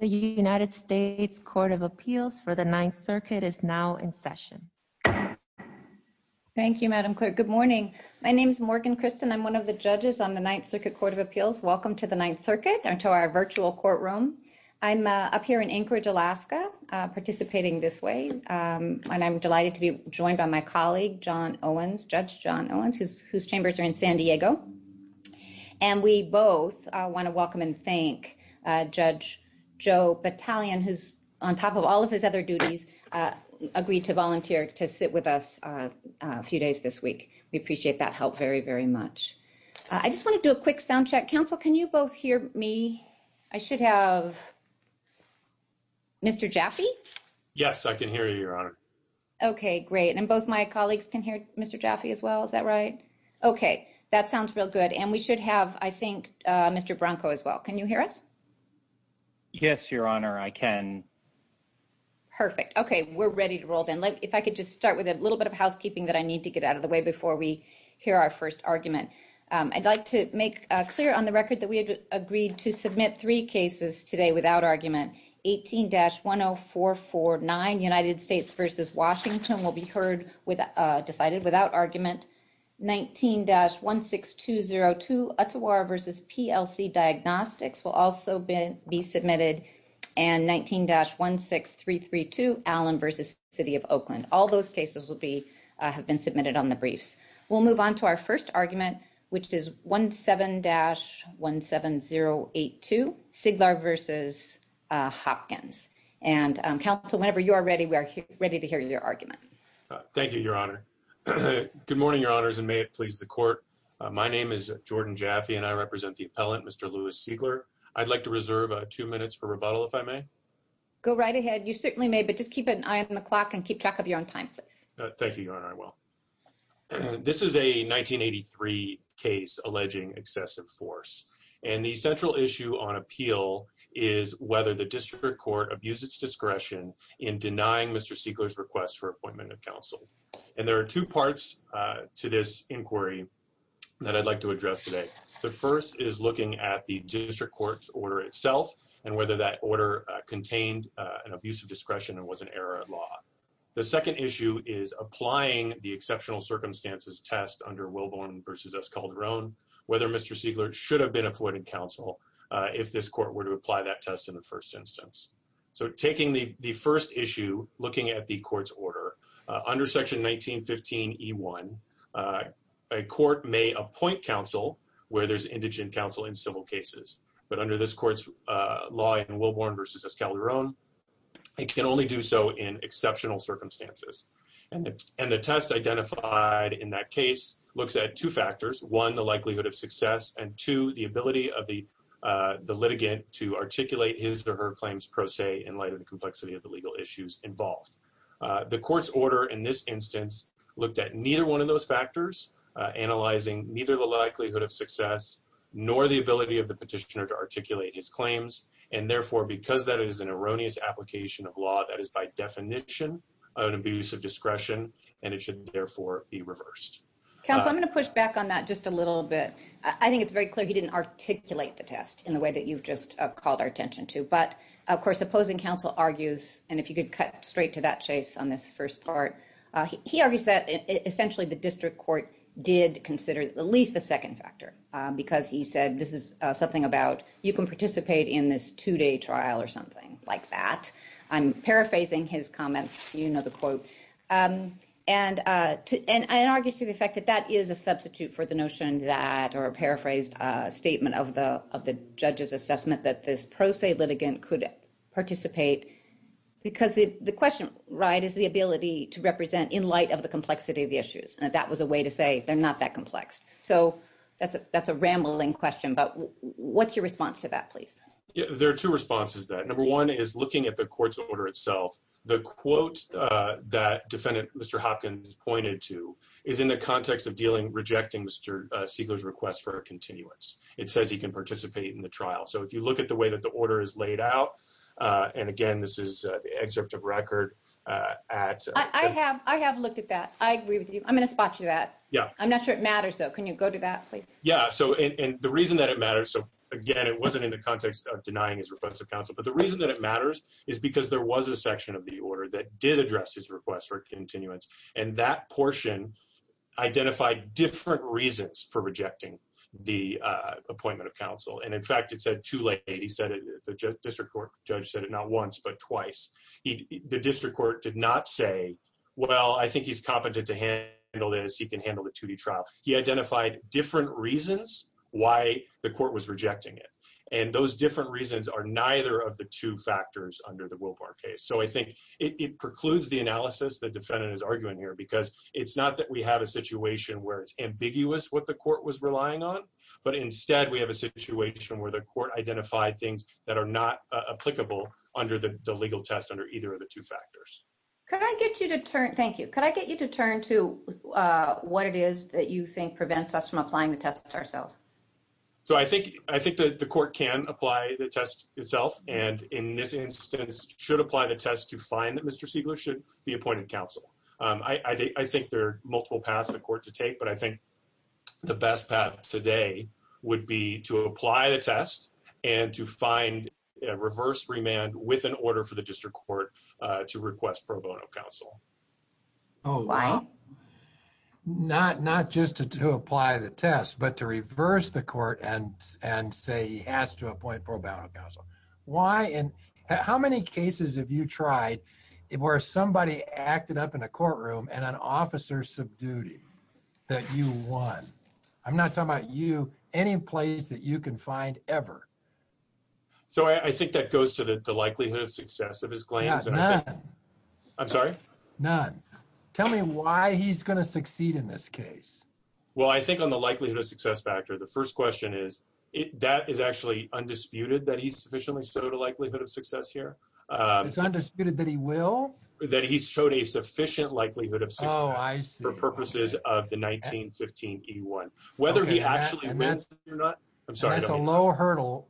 The United States Court of Appeals for the Ninth Circuit is now in session. Thank you, Madam Clerk. Good morning. My name is Morgan Christen. I'm one of the judges on the Ninth Circuit Court of Appeals. Welcome to the Ninth Circuit and to our virtual courtroom. I'm up here in Anchorage, Alaska, participating this way, and I'm delighted to be joined by my colleague, Judge John Owens, whose chambers are in San Diego. And we both want to welcome and thank Judge Joe Battalion, who's, on top of all of his other duties, agreed to volunteer to sit with us a few days this week. We appreciate that help very, very much. I just want to do a quick sound check. Counsel, can you both hear me? I should have Mr. Jaffe? Yes, I can hear you, Your Honor. Okay, great. And both my colleagues can hear Mr. Jaffe as well. Is that right? Okay. Okay, that sounds real good. And we should have, I think, Mr. Bronco as well. Can you hear us? Yes, Your Honor. I can. Perfect. Okay. We're ready to roll then. If I could just start with a little bit of housekeeping that I need to get out of the way before we hear our first argument. I'd like to make clear on the record that we had agreed to submit three cases today without argument. 18-10449, United States v. Washington, will be heard, decided without argument. 19-16202, Ottawa v. PLC Diagnostics will also be submitted. And 19-16332, Allen v. City of Oakland. All those cases will be, have been submitted on the briefs. We'll move on to our first argument, which is 17-17082. Siglar v. Hopkins. And counsel, whenever you are ready, we are ready to hear your argument. Thank you, Your Honor. Good morning, Your Honors, and may it please the court. My name is Jordan Jaffe, and I represent the appellant, Mr. Louis Siglar. I'd like to reserve two minutes for rebuttal, if I may. Go right ahead. You certainly may, but just keep an eye on the clock and keep track of your own time, please. Thank you, Your Honor. I will. This is a 1983 case alleging excessive force. And the central issue on appeal is whether the district court abused its discretion in denying Mr. Siglar's request for appointment of counsel. And there are two parts to this inquiry that I'd like to address today. The first is looking at the district court's order itself and whether that order contained an abuse of discretion and was an error of law. The second issue is applying the exceptional circumstances test under Wilborn v. Escalderon, whether Mr. Siglar should have been appointed counsel if this court were to apply that test in the first instance. So taking the first issue, looking at the court's order, under Section 1915E1, a court may appoint counsel where there's indigent counsel in civil cases. But under this court's law in Wilborn v. Escalderon, it can only do so in exceptional circumstances. And the test identified in that case looks at two factors, one, the likelihood of success, and two, the ability of the litigant to articulate his or her claims pro se in light of the complexity of the legal issues involved. The court's order in this instance looked at neither one of those factors, analyzing neither the likelihood of success nor the ability of the petitioner to articulate his claims, and therefore, because that is an erroneous application of law that is by definition an abuse of discretion, and it should therefore be reversed. Counsel, I'm going to push back on that just a little bit. I think it's very clear he didn't articulate the test in the way that you've just called our attention to. But, of course, opposing counsel argues, and if you could cut straight to that, Chase, on this first part, he argues that essentially the district court did consider at least the second factor because he said this is something about you can participate in this two-day trial or something like that. I'm paraphrasing his comments. You know the quote. And I argue to the effect that that is a substitute for the notion that, or a paraphrased statement of the judge's assessment that this pro se litigant could participate because the question, right, is the ability to represent in light of the complexity of the issues, and that was a way to say they're not that complex. So that's a rambling question. But what's your response to that, please? Yeah, there are two responses to that. Number one is looking at the court's order itself. The quote that defendant Mr. Hopkins pointed to is in the context of dealing, rejecting Mr. Siegler's request for a continuance. It says he can participate in the trial. So if you look at the way that the order is laid out, and, again, this is the excerpt of record at. I have looked at that. I agree with you. I'm going to spot you that. Yeah. I'm not sure it matters, though. Can you go to that, please? Yeah. So, and the reason that it matters, so, again, it wasn't in the context of denying his request of counsel. But the reason that it matters is because there was a section of the order that did address his request for continuance. And that portion identified different reasons for rejecting the appointment of counsel. And, in fact, it said too late. He said it, the district court judge said it not once but twice. The district court did not say, well, I think he's competent to handle this, he can handle the 2D trial. He identified different reasons why the court was rejecting it. And those different reasons are neither of the two factors under the Wilbar case. So I think it precludes the analysis the defendant is arguing here because it's not that we have a situation where it's ambiguous what the court was relying on, but instead we have a situation where the court identified things that are not applicable under the legal test under either of the two factors. Could I get you to turn, thank you, could I get you to turn to what it is that you think prevents us from applying the test ourselves? So I think the court can apply the test itself. And in this instance should apply the test to find that Mr. Siegler should be appointed counsel. I think there are multiple paths in court to take. But I think the best path today would be to apply the test and to find a reverse remand with an order for the district court to request pro bono counsel. Oh, wow. Not just to apply the test, but to reverse the court and say he has to appoint pro bono counsel. Why and how many cases have you tried where somebody acted up in a courtroom and an officer subdued him that you won? I'm not talking about you, any place that you can find ever. So I think that goes to the likelihood of success of his claims. Yeah, none. I'm sorry? None. Tell me why he's going to succeed in this case. Well, I think on the likelihood of success factor, the first question is, that is actually undisputed that he's sufficiently showed a likelihood of success here. It's undisputed that he will? That he's showed a sufficient likelihood of success for purposes of the 1915 E1. Whether he actually wins or not, I'm sorry. That's a low hurdle,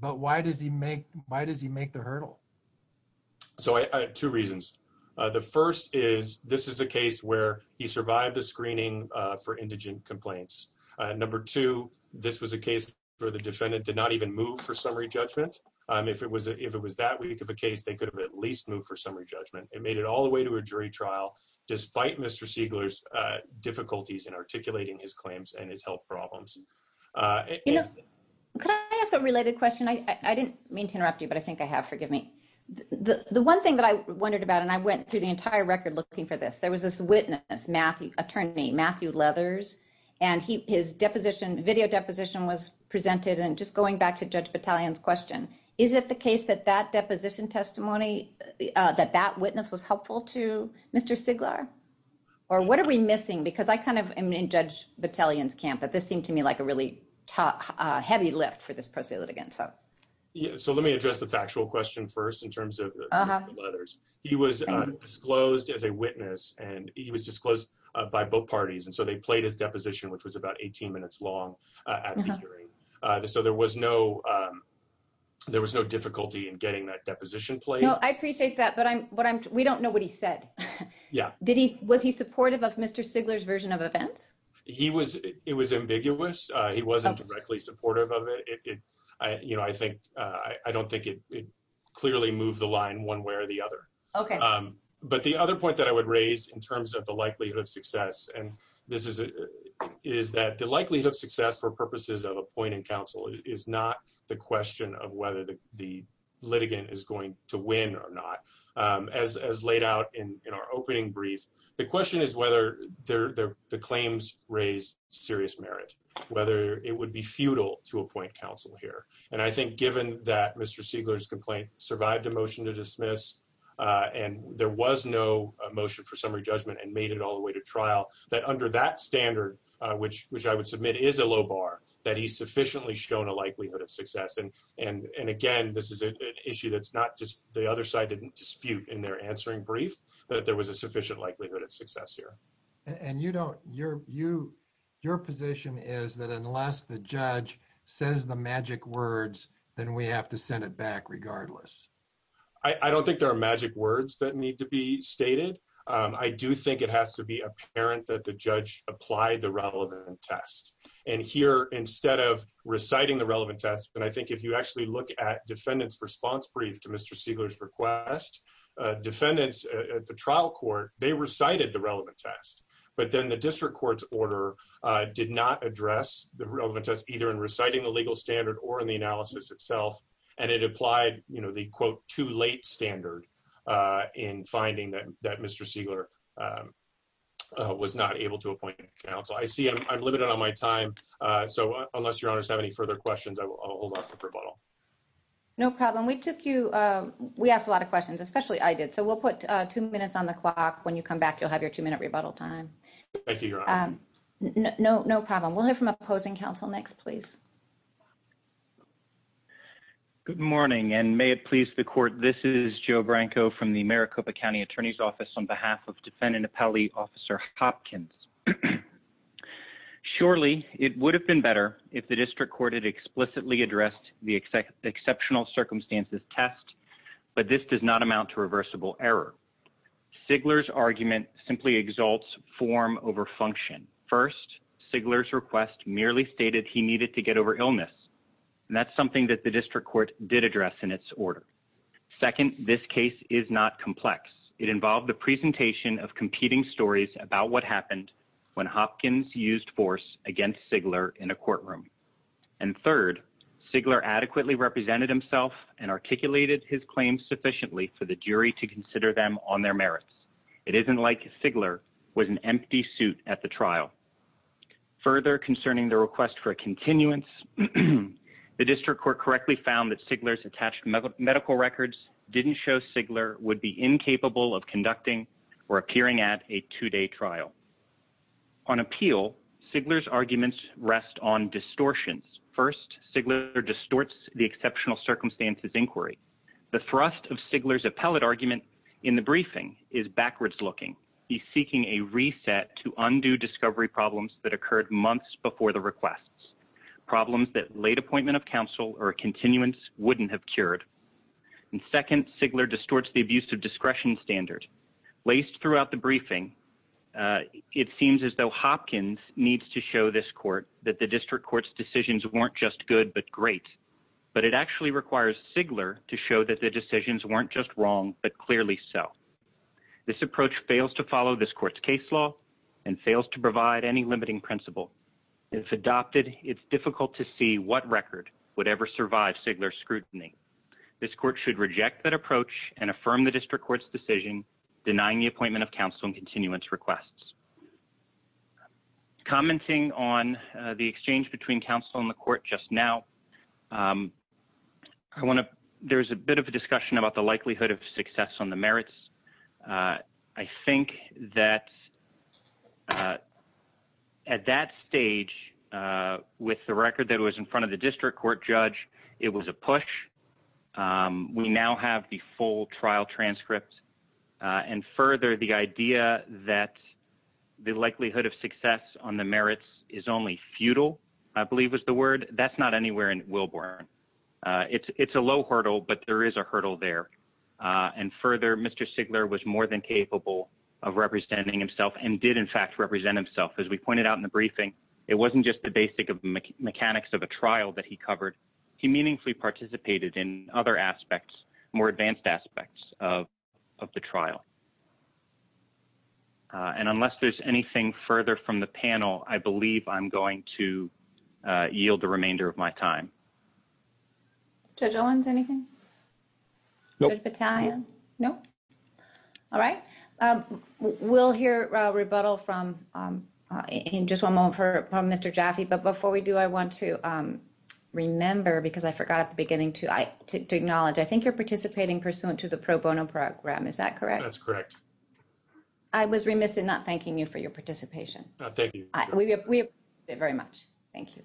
but why does he make the hurdle? So two reasons. The first is, this is a case where he survived the screening for indigent complaints. Number two, this was a case where the defendant did not even move for summary judgment. If it was that weak of a case, they could have at least moved for summary judgment. It made it all the way to a jury trial, despite Mr. Siegler's difficulties in articulating his claims and his health problems. You know, could I ask a related question? I didn't mean to interrupt you, but I think I have, forgive me. The one thing that I wondered about, and I went through the entire record looking for this, there was this witness, attorney Matthew Leathers, and his deposition, video deposition was presented. And just going back to Judge Battalion's question, is it the case that that deposition testimony, that that witness was helpful to Mr. Siegler? Or what are we missing? Because I kind of am in Judge Battalion's camp, but this seemed to me like a really heavy lift for this pro se litigant, so. Yeah, so let me address the factual question first in terms of Matthew Leathers. He was disclosed as a witness, and he was disclosed by both parties. And so they played his deposition, which was about 18 minutes long at the hearing. So there was no difficulty in getting that deposition played. No, I appreciate that, but we don't know what he said. Yeah. Was he supportive of Mr. Siegler's version of events? He was, it was ambiguous. He wasn't directly supportive of it. I don't think it clearly moved the line one way or the other. Okay. But the other point that I would raise in terms of the likelihood of success, and this is that the likelihood of success for purposes of appointing counsel is not the question of whether the litigant is going to win or not. As laid out in our opening brief, the question is whether the claims raise serious merit, whether it would be futile to appoint counsel here. And I think given that Mr. Siegler's complaint survived a motion to dismiss, and there was no motion for summary judgment and made it all the way to trial, that under that standard, which I would submit is a low bar, that he's sufficiently shown a likelihood of success. And again, this is an issue that's not just the other side didn't dispute in their answering brief that there was a sufficient likelihood of success here. And you don't, your position is that unless the judge says the magic words, then we have to send it back regardless. I don't think there are magic words that need to be stated. I do think it has to be apparent that the judge applied the relevant test. And here, instead of reciting the relevant test, and I think if you actually look at defendants response brief to Mr. Siegler's request, defendants at the trial court, they recited the relevant test. But then the district court's order did not address the relevant test either in reciting the legal standard or in the analysis itself. And it applied the quote, too late standard in finding that Mr. Siegler was not able to appoint counsel. I see I'm limited on my time. So unless your honors have any further questions, I'll hold off for rebuttal. No problem, we took you, we asked a lot of questions, especially I did. So we'll put two minutes on the clock. When you come back, you'll have your two minute rebuttal time. Thank you, your honor. No problem. We'll hear from opposing counsel next, please. Good morning, and may it please the court. This is Joe Branco from the Maricopa County Attorney's Office on behalf of Defendant Appellee Officer Hopkins. Surely, it would have been better if the district court had explicitly addressed the exceptional circumstances test, but this does not amount to reversible error. Sigler's argument simply exalts form over function. First, Sigler's request merely stated he needed to get over illness. And that's something that the district court did address in its order. Second, this case is not complex. It involved the presentation of competing stories about what happened when Hopkins used force against Sigler in a courtroom. And third, Sigler adequately represented himself and articulated his claims sufficiently for the jury to consider them on their merits. It isn't like Sigler was an empty suit at the trial. Further concerning the request for a continuance, the district court correctly found that Sigler's attached medical records didn't show Sigler would be incapable of conducting or appearing at a two day trial. On appeal, Sigler's arguments rest on distortions. First, Sigler distorts the exceptional circumstances inquiry. The thrust of Sigler's appellate argument in the briefing is backwards looking. He's seeking a reset to undue discovery problems that occurred months before the requests. Problems that late appointment of counsel or continuance wouldn't have cured. And second, Sigler distorts the abuse of discretion standard. Laced throughout the briefing, it seems as though Hopkins needs to show this court that the district court's decisions weren't just good but great. But it actually requires Sigler to show that the decisions weren't just wrong, but clearly so. This approach fails to follow this court's case law and fails to provide any limiting principle. If adopted, it's difficult to see what record would ever survive Sigler's scrutiny. This court should reject that approach and affirm the district court's decision, denying the appointment of counsel and continuance requests. Commenting on the exchange between counsel and the court just now, there's a bit of a discussion about the likelihood of success on the merits. I think that at that stage, with the record that was in front of the district court judge, it was a push, we now have the full trial transcripts. And further, the idea that the likelihood of success on the merits is only futile, I believe was the word, that's not anywhere in Wilburn. It's a low hurdle, but there is a hurdle there. And further, Mr. Sigler was more than capable of representing himself and did in fact represent himself. As we pointed out in the briefing, it wasn't just the basic of the mechanics of the trial that he covered. He meaningfully participated in other aspects, more advanced aspects of the trial. And unless there's anything further from the panel, I believe I'm going to yield the remainder of my time. Judge Owens, anything? Judge Battaglia? No. All right, we'll hear rebuttal from, in just one moment, from Mr. Jaffe, but before we do, I want to remember, because I forgot at the beginning to acknowledge, I think you're participating pursuant to the pro bono program, is that correct? That's correct. I was remiss in not thanking you for your participation. Thank you. We appreciate it very much. Thank you.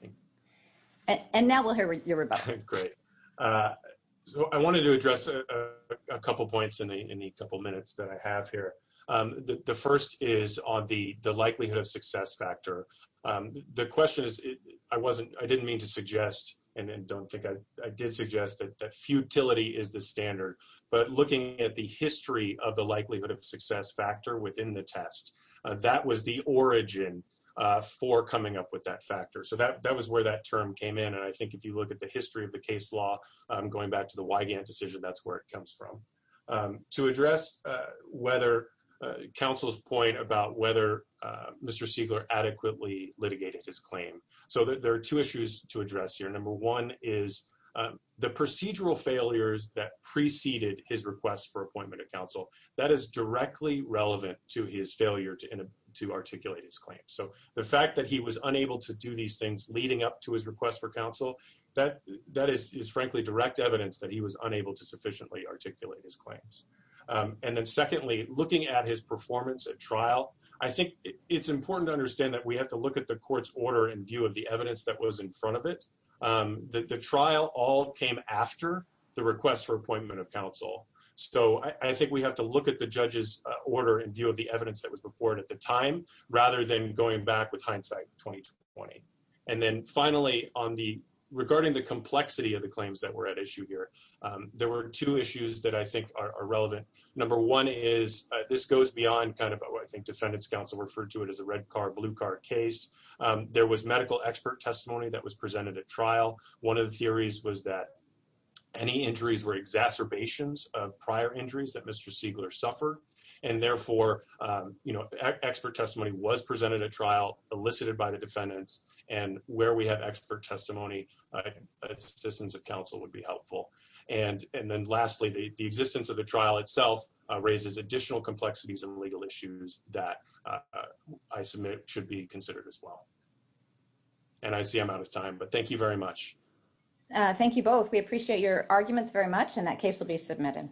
And now we'll hear your rebuttal. Great. So I wanted to address a couple points in the couple minutes that I have here. The first is on the likelihood of success factor. The question is, I didn't mean to suggest, and don't think I did suggest, that futility is the standard. But looking at the history of the likelihood of success factor within the test, that was the origin for coming up with that factor. So that was where that term came in, and I think if you look at the history of the case law, going back to the Wygant decision, that's where it comes from. To address counsel's point about whether Mr. Siegler adequately litigated his claim, so there are two issues to address here. Number one is the procedural failures that preceded his request for appointment of counsel, that is directly relevant to his failure to articulate his claim, so the fact that he was unable to do these things leading up to his request for counsel, that is frankly direct evidence that he was unable to sufficiently articulate his claims. And then secondly, looking at his performance at trial, I think it's important to understand that we have to look at the court's order and view of the evidence that was in front of it. The trial all came after the request for appointment of counsel. So I think we have to look at the judge's order and view of the evidence that was before it at the time, rather than going back with hindsight 2020. And then finally, regarding the complexity of the claims that were at issue here, there were two issues that I think are relevant. Number one is, this goes beyond kind of what I think defendants counsel referred to it as a red card, blue card case, there was medical expert testimony that was presented at trial, one of the theories was that any injuries were exacerbations of prior injuries that Mr. Siegler suffered. And therefore, expert testimony was presented at trial, elicited by the defendants, and where we have expert testimony, assistance of counsel would be helpful. And then lastly, the existence of the trial itself raises additional complexities and legal issues that I submit should be considered as well. And I see I'm out of time, but thank you very much. Thank you both. We appreciate your arguments very much and that case will be submitted.